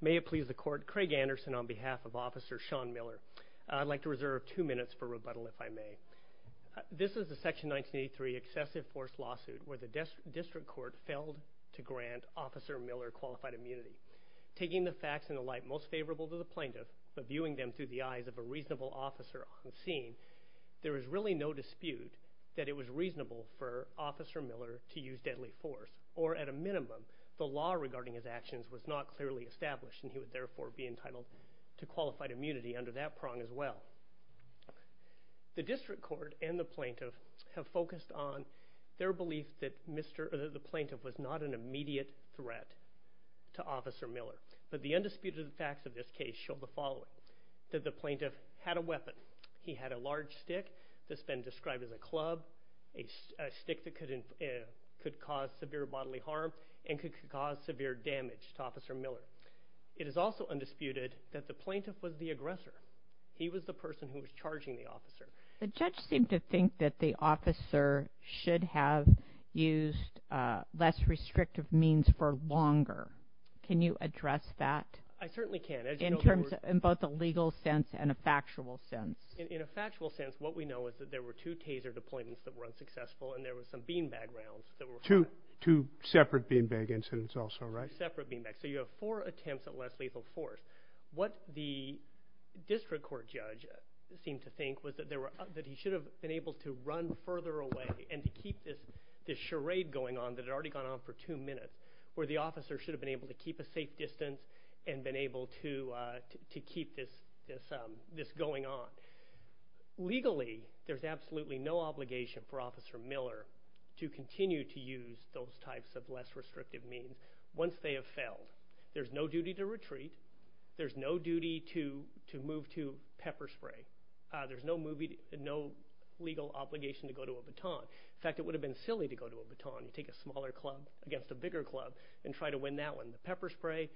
May it please the Court, Craig Anderson on behalf of Officer Sean Miller. I'd like to reserve two minutes for rebuttal if I may. This is the Section 1983 Excessive Force Lawsuit where the District Court failed to grant Officer Miller qualified immunity. Taking the facts and the like most favorable to the Plaintiff, but viewing them through the eyes of a reasonable officer on scene, there is really no dispute that it was reasonable for Officer Miller to use deadly force or at a minimum the law regarding his actions was not clearly established and he would therefore be entitled to qualified immunity under that prong as well. The District Court and the Plaintiff have focused on their belief that the Plaintiff was not an immediate threat to Officer Miller. It is undisputed that the facts of this case show the following, that the Plaintiff had a weapon. He had a large stick that has been described as a club, a stick that could cause severe bodily harm and could cause severe damage to Officer Miller. It is also undisputed that the Plaintiff was the aggressor. He was the person who was charging the officer. The judge seemed to think that the officer should have used less restrictive means for longer. Can you address that? I certainly can. In both a legal sense and a factual sense. In a factual sense, what we know is that there were two taser deployments that were unsuccessful and there were some beanbag rounds that were- Two separate beanbag incidents also, right? Separate beanbag. So you have four attempts at less lethal force. What the District Court judge seemed to think was that he should have been able to run further away and keep this charade going on that had already gone on for two minutes, where the officer should have been able to keep a safe distance and been able to keep this going on. Legally, there's absolutely no obligation for Officer Miller to continue to use those types of less restrictive means once they have failed. There's no duty to retreat. There's no duty to move to pepper spray. There's no legal obligation to go to a baton. In fact, it would have been silly to go to a baton and take a smaller club against a bigger club and try to win that one. The pepper spray,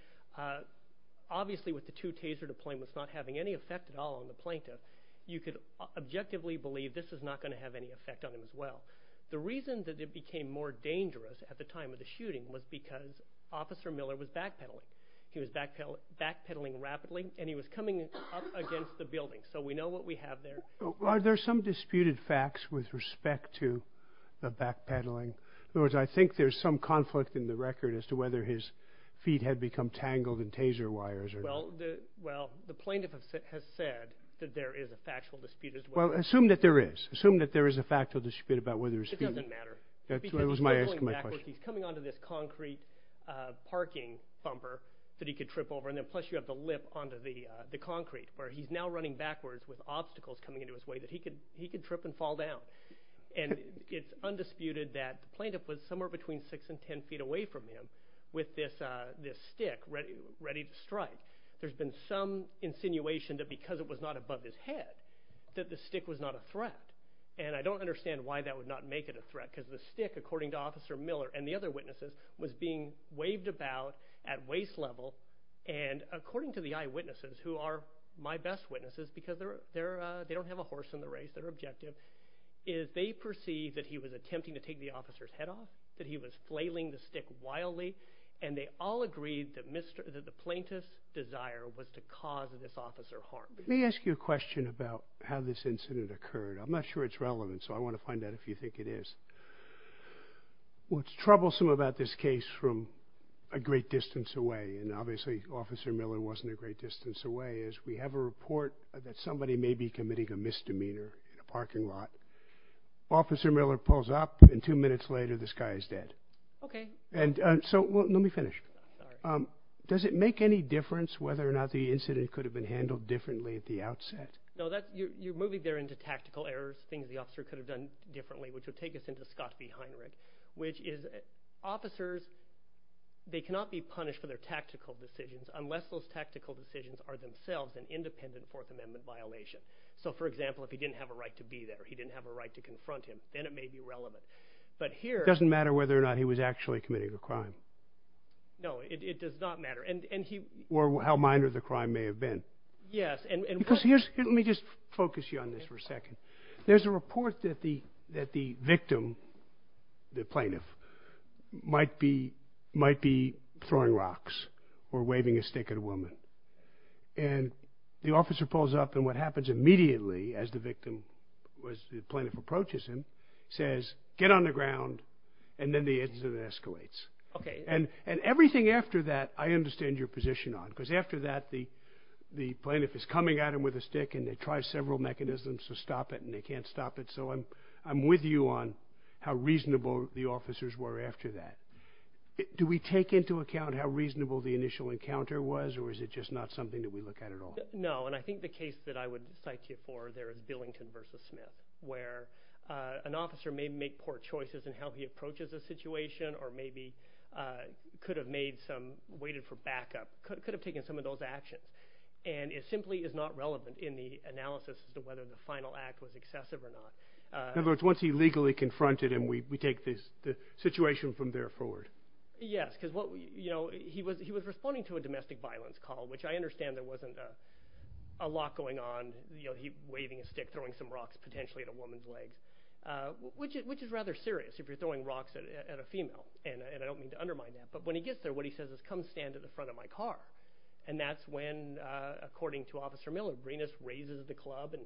obviously with the two taser deployments not having any effect at all on the plaintiff, you could objectively believe this is not going to have any effect on him as well. The reason that it became more dangerous at the time of the shooting was because Officer Miller was backpedaling. He was backpedaling rapidly and he was coming up against the building. So we know what we have there. Are there some disputed facts with respect to the backpedaling? In other words, I think there's some conflict in the record as to whether his feet had become tangled in taser wires or not. Well, the plaintiff has said that there is a factual dispute as well. Well, assume that there is. Assume that there is a factual dispute about whether his feet... It doesn't matter. That was my question. He's coming onto this concrete parking bumper that he could trip over and then plus you have the lip onto the concrete where he's now running backwards with obstacles coming into his way that he could trip and fall down. And it's undisputed that the plaintiff was somewhere between six and ten feet away from him with this stick ready to strike. There's been some insinuation that because it was not above his head that the stick was not a threat. And I don't understand why that would not make it a threat because the stick, according to Officer Miller and the other witnesses, was being waved about at waist level. And according to the eyewitnesses, who are my best witnesses because they don't have a horse in the race, they're objective, is they perceived that he was attempting to take the officer's head off, that he was flailing the stick wildly. And they all agreed that the plaintiff's desire was to cause this officer harm. Let me ask you a question about how this incident occurred. I'm not sure it's relevant, so I want to find out if you think it is. What's troublesome about this case from a great distance away, and obviously Officer Miller wasn't a great distance away, is we have a report that somebody may be committing a misdemeanor in a parking lot. Officer Miller pulls up and two minutes later, this guy is dead. OK, and so let me finish. Does it make any difference whether or not the incident could have been handled differently at the outset? No, you're moving there into tactical errors, things the officer could have done differently, which would take us into the Scott v. Heinrich, which is officers, they cannot be punished for their tactical decisions unless those tactical decisions are themselves an independent Fourth Amendment violation. So, for example, if he didn't have a right to be there, he didn't have a right to confront him, then it may be relevant. It doesn't matter whether or not he was actually committing a crime. No, it does not matter. Or how minor the crime may have been. Yes. Let me just focus you on this for a second. There's a report that the victim, the plaintiff, might be throwing rocks or waving a stick at a woman. And the officer pulls up and what happens immediately as the victim, as the plaintiff approaches him, says, get on the ground. And then the incident escalates. OK, and and everything after that, I understand your position on because after that, the the plaintiff is coming at him with a stick and they try several mechanisms to stop it and they can't stop it. So I'm I'm with you on how reasonable the officers were after that. Do we take into account how reasonable the initial encounter was or is it just not something that we look at at all? No. And I think the case that I would cite you for there is Billington versus Smith, where an officer may make poor choices in how he approaches the situation or maybe could have made some waited for backup, could have taken some of those actions. And it simply is not relevant in the analysis of whether the final act was excessive or not. In other words, once he legally confronted him, we we take this situation from there forward. Yes, because, you know, he was he was responding to a domestic violence call, which I understand there wasn't a lot going on, you know, he waving a stick, throwing some rocks potentially at a woman's leg, which is which is rather serious if you're throwing rocks at a female. And I don't mean to undermine that. But when he gets there, what he says is come stand at the front of my car. And that's when, according to Officer Miller, Greenis raises the club and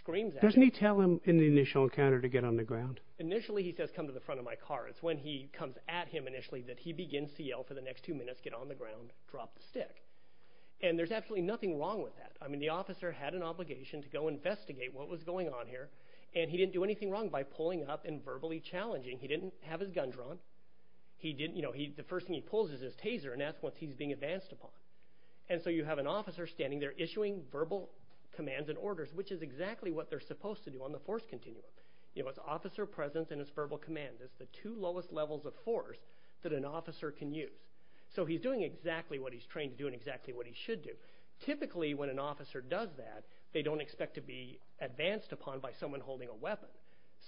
screams. Doesn't he tell him in the initial encounter to get on the ground? Initially, he says, come to the front of my car. It's when he comes at him initially that he begins to yell for the next two minutes, get on the ground, drop the stick. And there's absolutely nothing wrong with that. I mean, the officer had an obligation to go investigate what was going on here. And he didn't do anything wrong by pulling up and verbally challenging. He didn't have his gun drawn. He didn't. You know, the first thing he pulls is his taser. And that's what he's being advanced upon. And so you have an officer standing there issuing verbal commands and orders, which is exactly what they're supposed to do on the force continuum. You know, it's officer presence and it's verbal command. It's the two lowest levels of force that an officer can use. So he's doing exactly what he's trained to do and exactly what he should do. Typically, when an officer does that, they don't expect to be advanced upon by someone holding a weapon.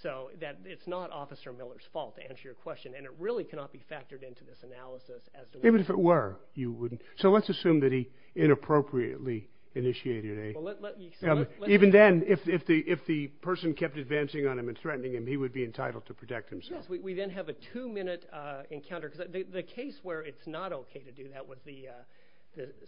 So that it's not Officer Miller's fault, to answer your question. And it really cannot be factored into this analysis. Even if it were, you wouldn't. So let's assume that he inappropriately initiated a... Even then, if the person kept advancing on him and threatening him, he would be entitled to protect himself. We then have a two-minute encounter. The case where it's not okay to do that was the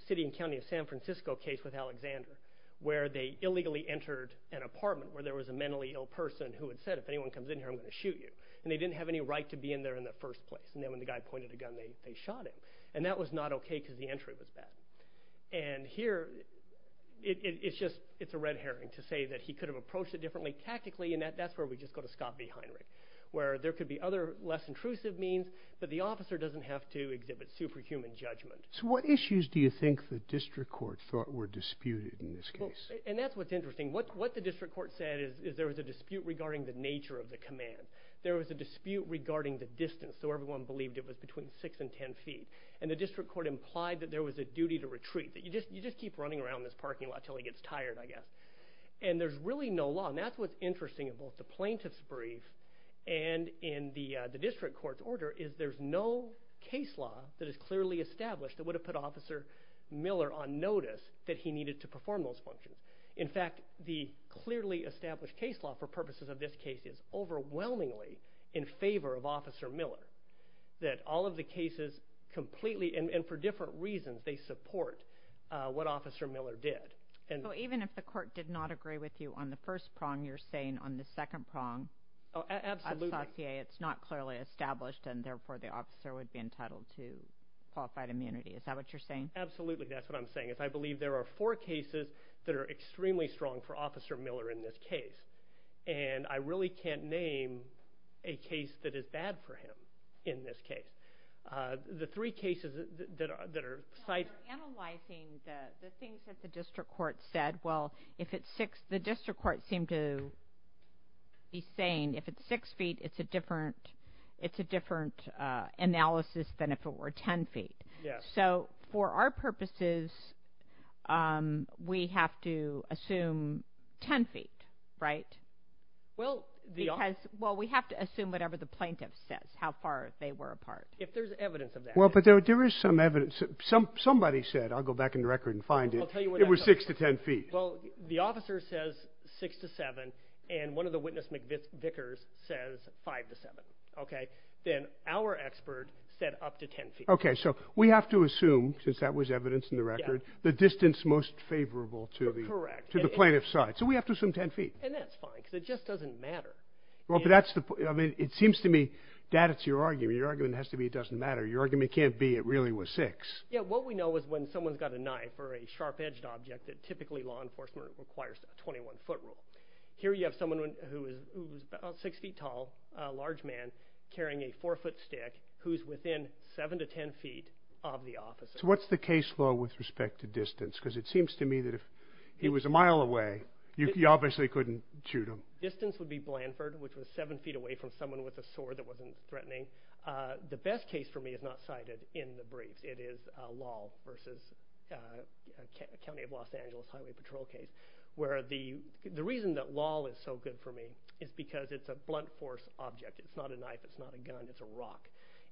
city and county of San Francisco case with Alexander, where they illegally entered an apartment where there was a mentally ill person who had said, if anyone comes in here, I'm going to shoot you. And they didn't have any right to be in there in the first place. And then when the guy pointed a gun, they shot it. And that was not okay because the entry was bad. And here, it's a red herring to say that he could have approached it differently tactically. And that's where we just go to Scott B. Heinrich, where there could be other less intrusive means, but the officer doesn't have to exhibit superhuman judgment. So what issues do you think the district court thought were disputed in this case? And that's what's interesting. What the district court said is there was a dispute regarding the nature of the command. There was a dispute regarding the distance. So everyone believed it was between six and 10 feet. And the district court implied that there was a duty to retreat, that you just keep running around this parking lot till he gets tired, I guess. And there's really no law. And that's what's interesting in both the plaintiff's brief and in the district court's order is there's no case law that is clearly established that would have put Officer Miller on notice that he needed to perform those functions. In fact, the clearly established case law for purposes of this case is overwhelmingly in favor of Officer Miller, that all of the cases completely and for different reasons, they support what Officer Miller did. And even if the court did not agree with you on the first prong, you're saying on the second prong. Oh, absolutely. It's not clearly established. And therefore, the officer would be entitled to qualified immunity. Is that what you're saying? Absolutely. That's what I'm saying is I believe there are four cases that are extremely strong for Officer Miller in this case. And I really can't name a case that is bad for him in this case. The three cases that are cited... You're analyzing the things that the district court said. Well, if it's six, the district court seemed to be saying if it's six feet, it's a different analysis than if it were 10 feet. So for our purposes, we have to assume 10 feet, right? Well, we have to assume whatever the plaintiff says, how far they were apart. If there's evidence of that. Well, but there is some evidence. Somebody said, I'll go back in the record and find it. It was six to 10 feet. Well, the officer says six to seven. And one of the witness Vickers says five to seven. Okay. Then our expert said up to 10 feet. Okay. So we have to assume, since that was evidence in the record, the distance most favorable to the plaintiff's side. So we have to assume 10 feet. And that's fine because it just doesn't matter. Well, but that's the point. I mean, it seems to me, Dad, it's your argument. Your argument has to be it doesn't matter. Your argument can't be it really was six. Yeah. What we know is when someone's got a knife or a sharp edged object, that typically law enforcement requires a 21 foot rule. Here you have someone who is about six feet tall, a large man, carrying a four foot stick who's within seven to 10 feet of the officer. So what's the case law with respect to distance? Because it seems to me that if he was a mile away, you obviously couldn't shoot him. Distance would be Blanford, which was seven feet away from someone with a sword that wasn't threatening. The best case for me is not cited in the briefs. It is a law versus County of Los Angeles Highway Patrol case, where the reason that law is so good for me is because it's a blunt force object. It's not a knife. It's not a gun. It's a rock.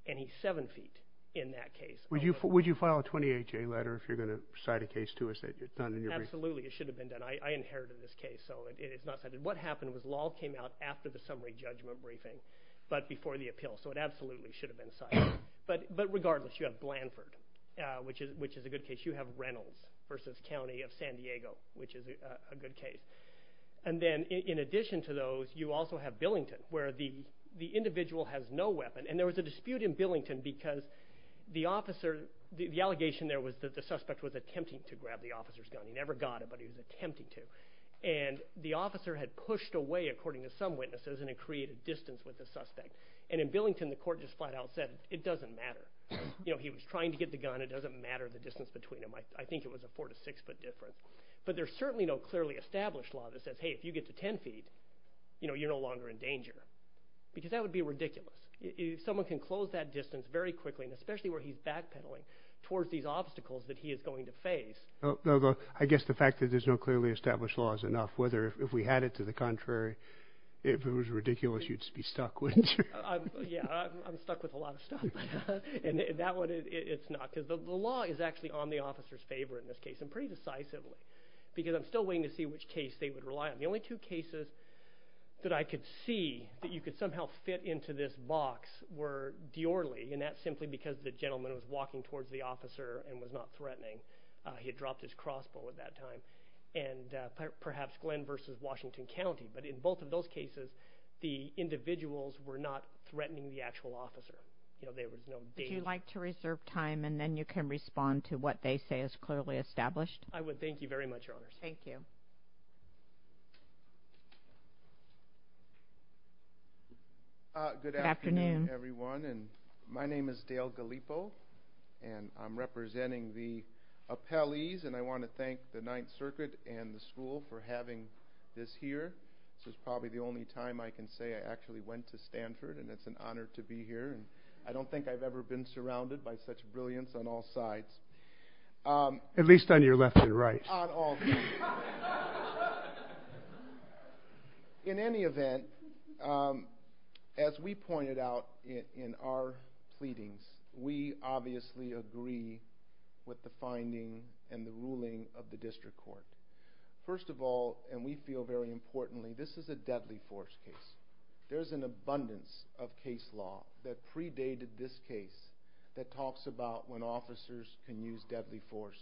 And he's seven feet in that case. Would you file a 28 day letter if you're going to cite a case to us? Absolutely. It should have been done. I inherited this case. So it's not that what happened was law came out after the summary judgment briefing, but before the appeal. So it absolutely should have been cited. But but regardless, you have Blanford, which is which is a good case. You have Reynolds versus County of San Diego, which is a good case. And then in addition to those, you also have Billington, where the the individual has no weapon. And there was a dispute in Billington because the officer, the allegation there was that the suspect was attempting to grab the officer's gun. He never got it, but he was attempting to. And the officer had pushed away, according to some witnesses, and it created distance with the suspect. And in Billington, the court just flat out said it doesn't matter. You know, he was trying to get the gun. It doesn't matter the distance between them. I think it was a four to six foot difference. But there's certainly no clearly established law that says, hey, if you get to 10 feet, you know, you're no longer in danger because that would be ridiculous if someone can close that distance very quickly, and especially where he's backpedaling towards these obstacles that he is going to face. I guess the fact that there's no clearly established law is enough, whether if we had it to the contrary, if it was ridiculous, you'd be stuck with. Yeah, I'm stuck with a lot of stuff. And that one is not because the law is actually on the officer's favor in this case. I'm pretty decisive because I'm still waiting to see which case they would rely on. The only two cases that I could see that you could somehow fit into this box were Diorley, and that's simply because the gentleman was walking towards the officer and was not threatening. He had dropped his crossbow at that time. And perhaps Glenn versus Washington County. But in both of those cases, the individuals were not threatening the actual officer. You know, they would, you know. Would you like to reserve time and then you can respond to what they say is clearly established? I would. Thank you very much, Your Honors. Thank you. Good afternoon, everyone. And my name is Dale Gallipo, and I'm representing the appellees. And I want to thank the Ninth Circuit and the school for having this here. This is probably the only time I can say I actually went to Stanford. And it's an honor to be here. And I don't think I've ever been surrounded by such brilliance on all sides. At least on your left and right. On all sides. In any event, as we pointed out in our pleadings, we obviously agree with the finding and the ruling of the district court. First of all, and we feel very importantly, this is a deadly force case. There's an abundance of case law that predated this case that talks about when officers can use deadly force.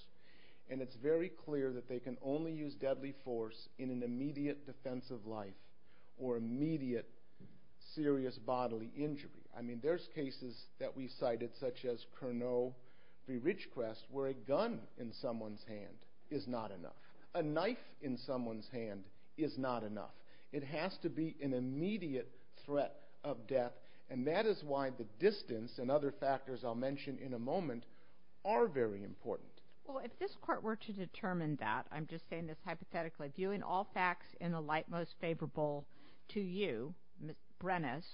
And it's very clear that they can only use deadly force in an immediate defense of life or immediate serious bodily injury. I mean, there's cases that we cited, such as Curnow v. Ridgecrest, where a gun in someone's hand is not enough. A knife in someone's hand is not enough. It has to be an immediate threat of death. And that is why the distance and other factors I'll mention in a moment are very important. Well, if this court were to determine that, I'm just saying this hypothetically, viewing all facts in the light most favorable to you, Brenes,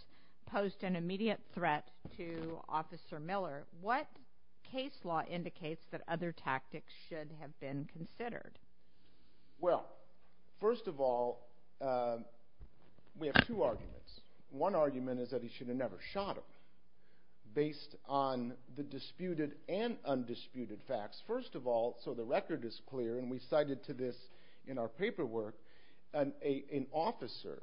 posed an immediate threat to Officer Miller, what case law indicates that other tactics should have been considered? Well, first of all, we have two arguments. One argument is that he should have never shot him, based on the disputed and undisputed facts. First of all, so the record is clear, and we cited to this in our paperwork, an officer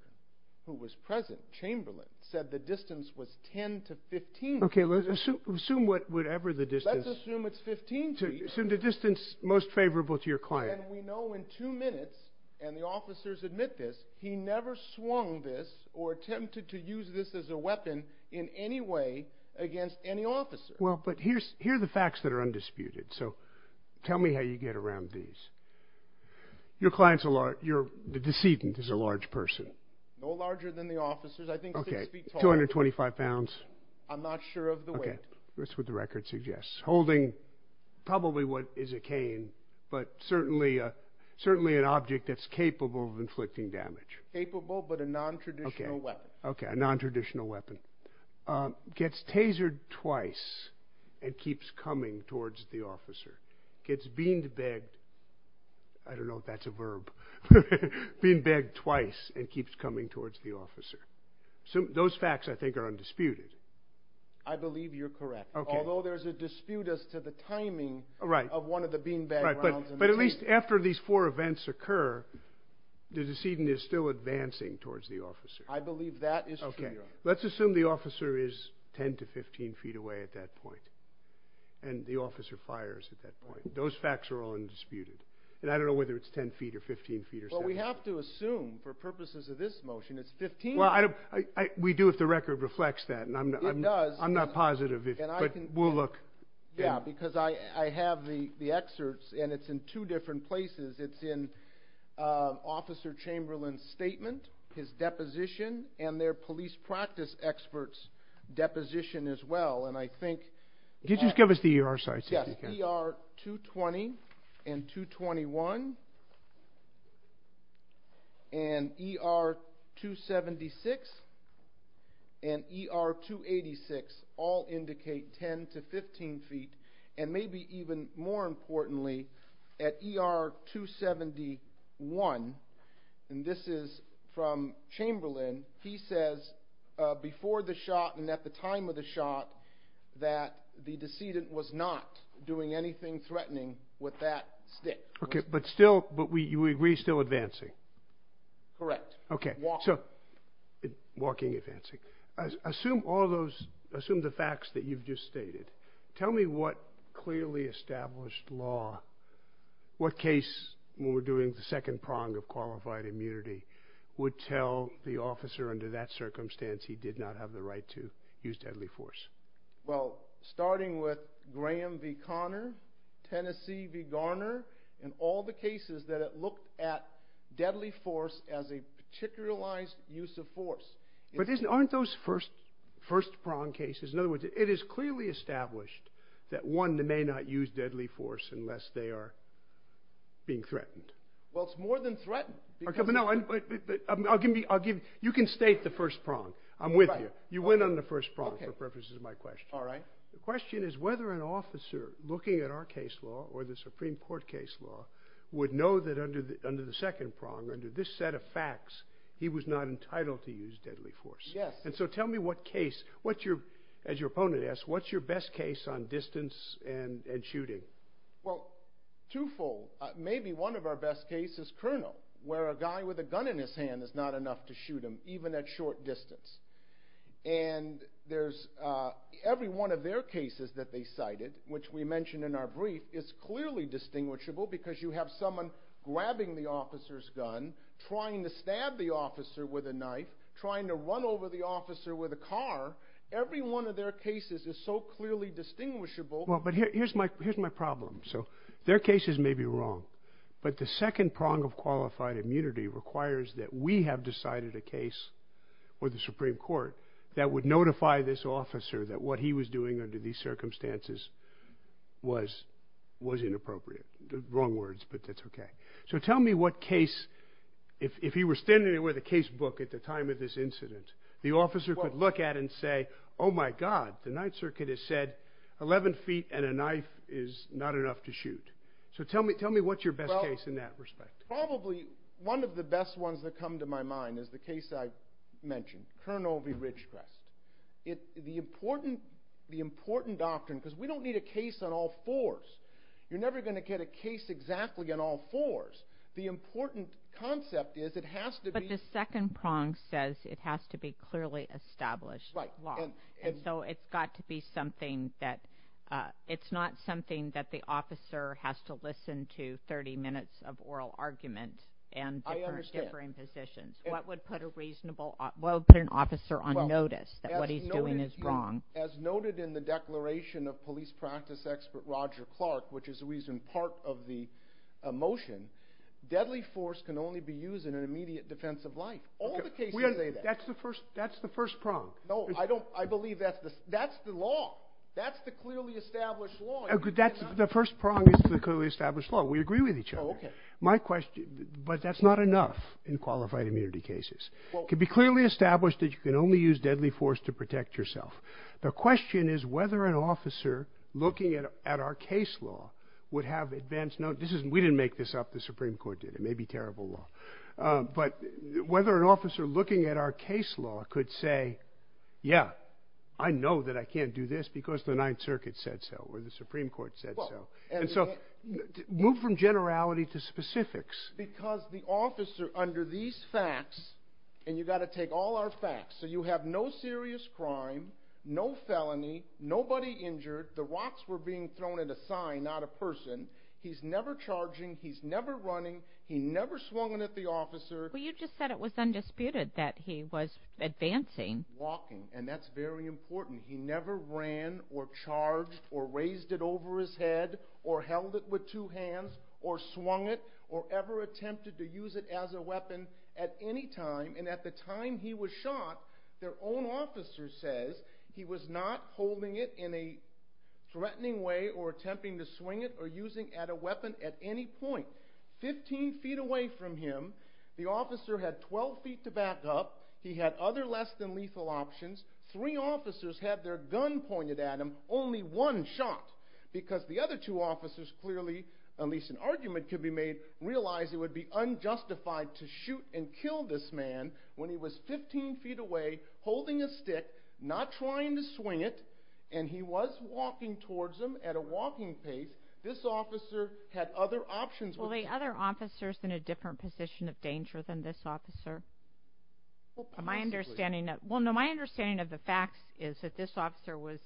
who was present, Chamberlain, said the distance was 10 to 15 feet. Okay, let's assume whatever the distance. Let's assume it's 15 feet. Assume the distance most favorable to your client. And we know in two minutes, and the officers admit this, he never swung this or attempted to use this as a weapon in any way against any officer. Well, but here are the facts that are undisputed. So tell me how you get around these. Your client's a large, the decedent is a large person. No larger than the officers. Okay, 225 pounds. I'm not sure of the weight. That's what the record suggests. Holding probably what is a cane, but certainly an object that's capable of inflicting damage. Capable, but a non-traditional weapon. Okay, a non-traditional weapon. Gets tasered twice and keeps coming towards the officer. Gets beanbagged, I don't know if that's a verb, beanbagged twice and keeps coming towards the officer. Those facts I think are undisputed. I believe you're correct. Although there's a dispute as to the timing of one of the beanbag rounds. But at least after these four events occur, the decedent is still advancing towards the officer. I believe that is true, Your Honor. Let's assume the officer is 10 to 15 feet away at that point. And the officer fires at that point. Those facts are all undisputed. And I don't know whether it's 10 feet or 15 feet or something. But we have to assume for purposes of this motion, it's 15. Well, we do if the record reflects that. It does. I'm not positive, but we'll look. Yeah, because I have the excerpts and it's in two different places. It's in Officer Chamberlain's statement, his deposition, and their police practice experts' deposition as well. And I think... Could you just give us the ER sites? Yes, ER 220 and 221. And ER 276 and ER 286 all indicate 10 to 15 feet. And maybe even more importantly, at ER 271, and this is from Chamberlain, he says before the shot and at the time of the shot, that the decedent was not doing anything threatening with that stick. Okay, but still... But you agree still advancing? Correct. Okay, so walking, advancing. Assume all those... Assume the facts that you've just stated. Tell me what clearly established law, what case when we're doing the second prong of qualified immunity, would tell the officer under that circumstance he did not have the right to use deadly force? Well, starting with Graham v. Connor, Tennessee v. Garner, and all the cases that it looked at deadly force as a particularized use of force. But aren't those first prong cases? It is clearly established that one may not use deadly force unless they are being threatened. Well, it's more than threatened. You can state the first prong. I'm with you. You went on the first prong for purposes of my question. All right. The question is whether an officer looking at our case law or the Supreme Court case law would know that under the second prong, under this set of facts, he was not entitled to use deadly force. Yes. Tell me what case. As your opponent asked, what's your best case on distance and shooting? Well, twofold. Maybe one of our best cases, Colonel, where a guy with a gun in his hand is not enough to shoot him, even at short distance. Every one of their cases that they cited, which we mentioned in our brief, trying to stab the officer with a knife, trying to run over the officer with a car, every one of their cases is so clearly distinguishable. Well, but here's my problem. So their cases may be wrong, but the second prong of qualified immunity requires that we have decided a case with the Supreme Court that would notify this officer that what he was doing under these circumstances was inappropriate. Wrong words, but that's OK. So tell me what case, if he were standing there with a casebook at the time of this incident, the officer could look at and say, oh my God, the Ninth Circuit has said 11 feet and a knife is not enough to shoot. So tell me what's your best case in that respect? Probably one of the best ones that come to my mind is the case I mentioned, Colonel V. Ridgecraft. The important doctrine, because we don't need a case on all fours. You're never going to get a case exactly on all fours. The important concept is it has to be. But the second prong says it has to be clearly established law. And so it's got to be something that, it's not something that the officer has to listen to 30 minutes of oral arguments and different positions. What would put a reasonable, what would put an officer on notice that what he's doing is wrong? As noted in the declaration of police practice expert Roger Clark, which is the reason part of the motion, deadly force can only be used in an immediate defense of life. All the cases say that. That's the first, that's the first prong. No, I don't, I believe that's the, that's the law. That's the clearly established law. That's the first prong is the clearly established law. We agree with each other. My question, but that's not enough in qualified immunity cases. It can be clearly established that you can only use deadly force to protect yourself. The question is whether an officer looking at our case law would have advanced, no, this isn't, we didn't make this up. The Supreme Court did. It may be terrible law. But whether an officer looking at our case law could say, yeah, I know that I can't do this because the Ninth Circuit said so, or the Supreme Court said so. And so move from generality to specifics. Because the officer under these facts, and you got to take all our facts. So you have no serious crime, no felony, nobody injured. The rocks were being thrown at a sign, not a person. He's never charging. He's never running. He never swung at the officer. Well, you just said it was undisputed that he was advancing. Walking. And that's very important. He never ran or charged or raised it over his head or held it with two hands or swung it or ever attempted to use it as a weapon at any time. And at the time he was shot, their own officer says he was not holding it in a threatening way or attempting to swing it or using it as a weapon at any point. 15 feet away from him, the officer had 12 feet to back up. He had other less than lethal options. Three officers had their gun pointed at him. Only one shot. Because the other two officers clearly, at least an argument could be made, realized it would be unjustified to shoot and kill this man when he was 15 feet away, holding a stick, not trying to swing it. And he was walking towards them at a walking pace. This officer had other options. Were the other officers in a different position of danger than this officer? My understanding, well, no, my understanding of the facts is that this officer was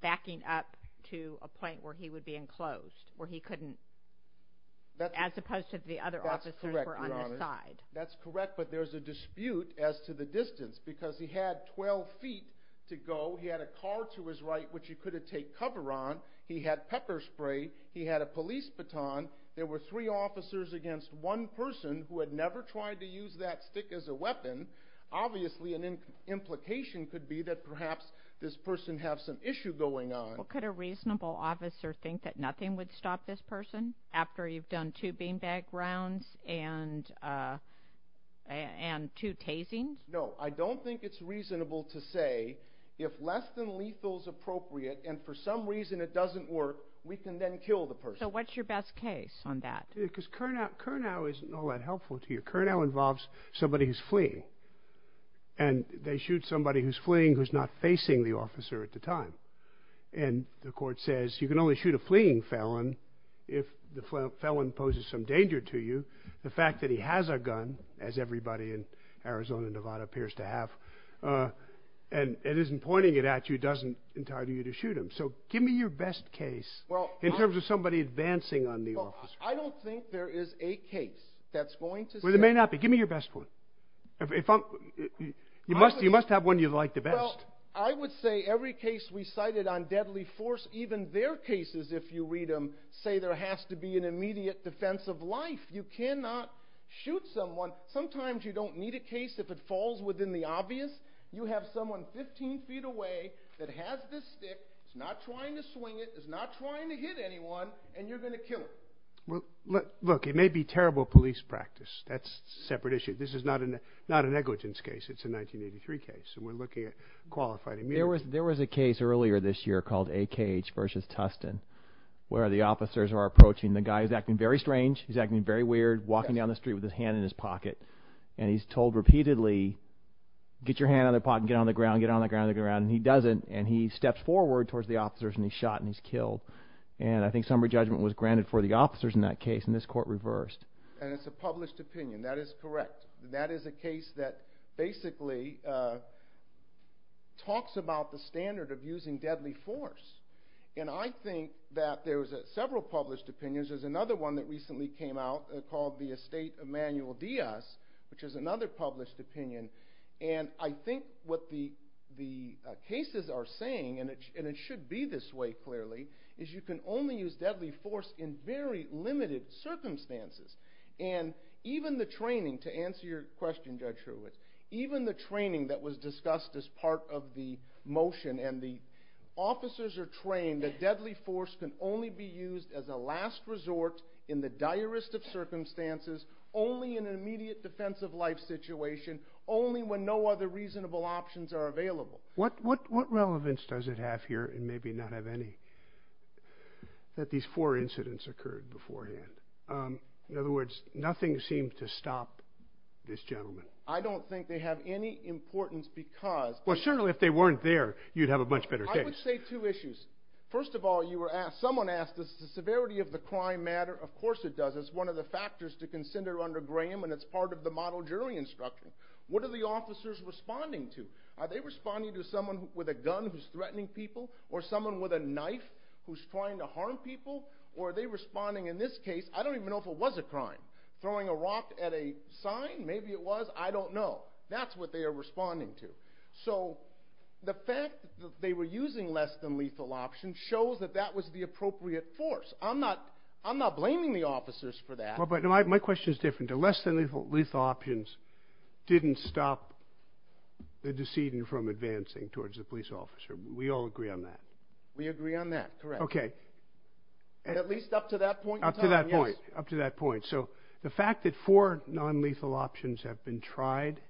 backing up to a point where he would be enclosed, where he couldn't, as opposed to the other officers were on his side. That's correct. But there's a dispute as to the distance because he had 12 feet to go. He had a car to his right, which he could have take cover on. He had pepper spray. He had a police baton. There were three officers against one person who had never tried to use that stick as a weapon. Obviously, an implication could be that perhaps this person have some issue going on. Could a reasonable officer think that nothing would stop this person after you've done two beanbag rounds and and two tasing? No, I don't think it's reasonable to say if less than lethal is appropriate and for some reason it doesn't work, we can then kill the person. So what's your best case on that? Because Kurnow isn't all that helpful to you. Kurnow involves somebody who's fleeing. And they shoot somebody who's fleeing, who's not facing the officer at the time. And the court says you can only shoot a fleeing felon if the felon poses some danger to you. The fact that he has a gun, as everybody in Arizona and Nevada appears to have, and isn't pointing it at you, doesn't entitle you to shoot him. So give me your best case in terms of somebody advancing on the officer. I don't think there is a case that's going to say... Well, there may not be. Give me your best one. You must have one you like the best. I would say every case we cited on deadly force, even their cases if you read them, say there has to be an immediate defense of life. You cannot shoot someone. Sometimes you don't need a case if it falls within the obvious. You have someone 15 feet away that has this stick, is not trying to swing it, is not trying to hit anyone, and you're going to kill him. Look, it may be terrible police practice. That's a separate issue. This is not a negligence case. It's a 1983 case. We're looking at qualified immunity. There was a case earlier this year called A.K.H. versus Tustin, where the officers are approaching the guy who's acting very strange. He's acting very weird, walking down the street with his hand in his pocket. And he's told repeatedly, get your hand on the pot and get on the ground, get on the ground, get on the ground. And he doesn't. And he steps forward towards the officers and he's shot and he's killed. And I think summary judgment was granted for the officers in that case. And this court reversed. And it's a published opinion. That is correct. That is a case that basically talks about the standard of using deadly force. And I think that there's several published opinions. There's another one that recently came out called the Estate Emanuel Diaz, which is another published opinion. And I think what the cases are saying, and it should be this way clearly, is you can only use deadly force in very limited circumstances. And even the training, to answer your question, Judge Hewitt, even the training that was discussed as part of the motion and the officers are trained, the deadly force can only be used as a last resort in the direst of circumstances, only in an immediate defensive life situation, only when no other reasonable options are available. What relevance does it have here and maybe not have any? That these four incidents occurred beforehand. In other words, nothing seemed to stop this gentleman. I don't think they have any importance because... Well, certainly if they weren't there, you'd have a much better case. I would say two issues. First of all, you were asked, someone asked, does the severity of the crime matter? Of course it does. It's one of the factors to consider under Graham, and it's part of the model jury instruction. What are the officers responding to? Are they responding to someone with a gun who's threatening people or someone with a knife who's trying to harm people? Or are they responding, in this case, I don't even know if it was a crime, throwing a rock at a sign, maybe it was, I don't know. That's what they are responding to. So the fact that they were using less than lethal options shows that that was the appropriate force. I'm not blaming the officers for that. But my question is different. The less than lethal options didn't stop the decedent from advancing towards the police officer. We all agree on that. We agree on that, correct. OK. At least up to that point. Up to that point. Up to that point. So the fact that four non-lethal options have been tried,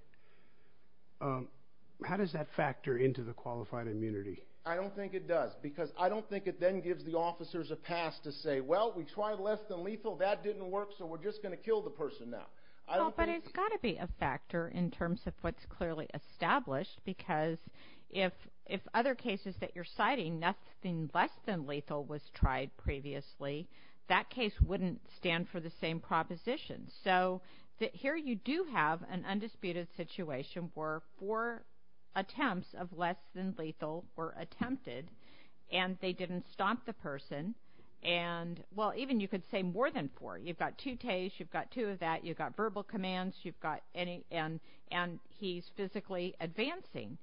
how does that factor into the qualified immunity? I don't think it does. Because I don't think it then gives the officers a pass to say, well, we tried less than lethal. That didn't work. So we're just going to kill the person now. Well, but it's got to be a factor in terms of what's clearly established. Because if other cases that you're citing, nothing less than lethal was tried previously, that case wouldn't stand for the same proposition. So here you do have an undisputed situation where four attempts of less than lethal were attempted. And they didn't stop the person. And, well, even you could say more than four. You've got two tastes. You've got two of that. You've got verbal commands. And he's physically advancing.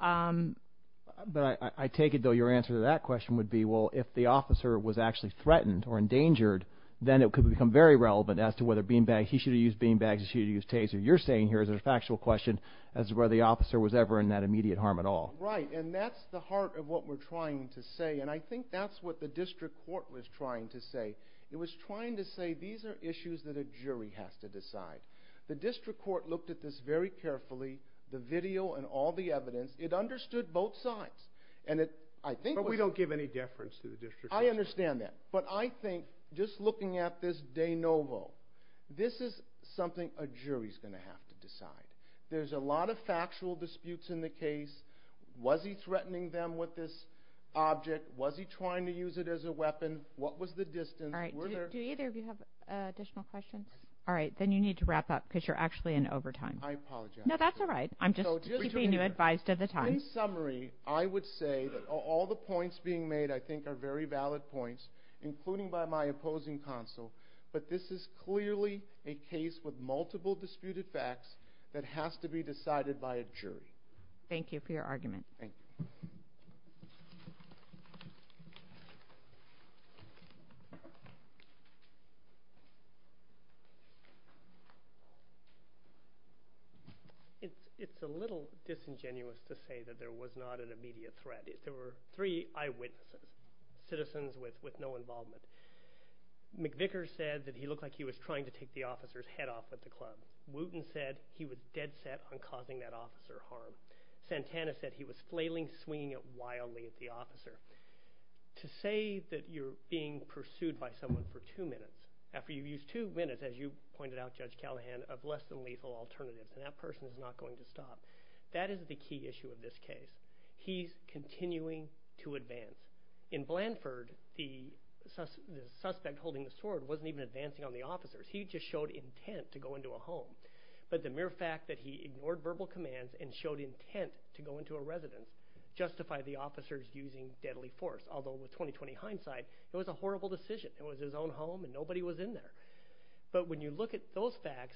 But I take it, though, your answer to that question would be, well, if the officer was actually threatened or endangered, then it could become very relevant as to whether beanbags, he should have used beanbags, he should have used tasers. You're saying here is a factual question as to whether the officer was ever in that immediate harm at all. Right. And that's the heart of what we're trying to say. And I think that's what the district court was trying to say. It was trying to say these are issues that a jury has to decide. The district court looked at this very carefully, the video and all the evidence. It understood both sides. And I think we don't give any deference to the district. I understand that. But I think just looking at this de novo, this is something a jury is going to have to decide. There's a lot of factual disputes in the case. Was he threatening them with this object? Was he trying to use it as a weapon? What was the distance? All right. Do either of you have additional questions? All right. Then you need to wrap up because you're actually in overtime. I apologize. No, that's all right. I'm just keeping you advised of the time. In summary, I would say that all the points being made, I think, are very valid points, including by my opposing counsel. But this is clearly a case with multiple disputed facts that has to be decided by a jury. Thank you for your argument. It's a little disingenuous to say that there was not an immediate threat. There were three eyewitnesses, citizens with no involvement. McVicker said that he looked like he was trying to take the officer's head off at the club. Wooten said he was dead set on causing that officer harm. Santana said he was flailing, swinging it wildly at the officer. To say that you're being pursued by someone for two minutes, after you've used two minutes, as you pointed out, Judge Callahan, of less than lethal alternatives, and that person is not going to stop. That is the key issue of this case. He's continuing to advance. In Blanford, the suspect holding the sword wasn't even advancing on the officers. He just showed intent to go into a home. But the mere fact that he ignored verbal commands and showed intent to go into a residence justified the officers using deadly force. Although, with 20-20 hindsight, it was a horrible decision. It was his own home, and nobody was in there. But when you look at those facts,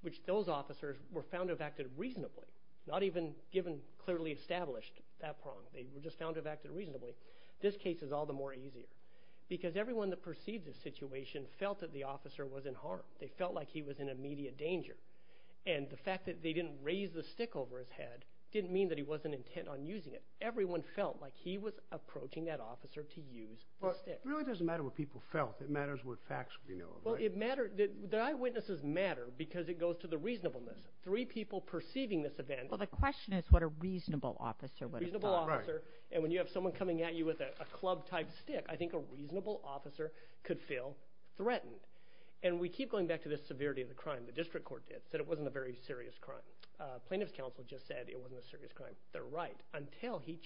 which those officers were found to have acted reasonably, not even given clearly established, they were just found to have acted reasonably, this case is all the more easy. Because everyone that perceived this situation felt that the officer was in harm. They felt like he was in immediate danger. And the fact that they didn't raise the stick over his head didn't mean that he wasn't intent on using it. Everyone felt like he was approaching that officer to use the stick. Really doesn't matter what people felt. It matters what facts we know. Well, it matters that the eyewitnesses matter because it goes to the reasonableness. Three people perceiving this event. Well, the question is what a reasonable officer would have thought. And when you have someone coming at you with a club-type stick, I think a reasonable officer could feel threatened. And we keep going back to this severity of the crime. The district court said it wasn't a very serious crime. Plaintiff's counsel just said it wasn't a serious crime. They're right, until he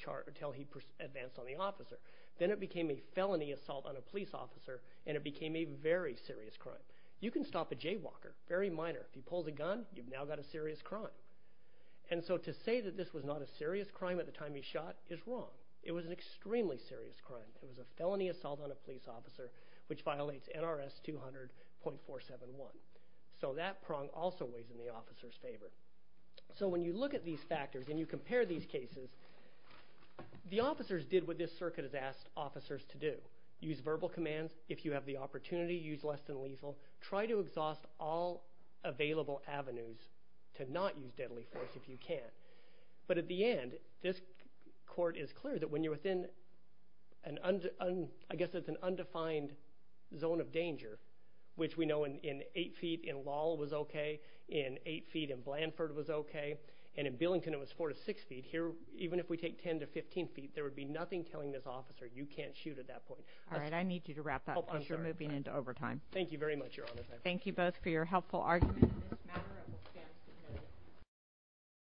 advanced on the officers. Then it became a felony assault on a police officer, and it became a very serious crime. You can stop a jaywalker, very minor. If he pulls a gun, you've now got a serious crime. And so to say that this was not a serious crime at the time he shot is wrong. It was an extremely serious crime. It was a felony assault on a police officer, which violates NRS 200.471. So that prong also weighs in the officer's favor. So when you look at these factors and you compare these cases, the officers did what this circuit has asked officers to do. Use verbal commands. If you have the opportunity, use less than lethal. Try to exhaust all available avenues to not use deadly force if you can. But at the end, this court is clear that when you're within, I guess it's an undefined zone of danger, which we know in eight feet in Lowell was okay, in eight feet in Blanford was okay, and in Billington it was four to six feet. Even if we take 10 to 15 feet, there would be nothing telling this officer, you can't shoot at that point. All right, I need you to wrap up because you're moving into overtime. Thank you very much, Your Honor. Thank you both for your helpful arguments.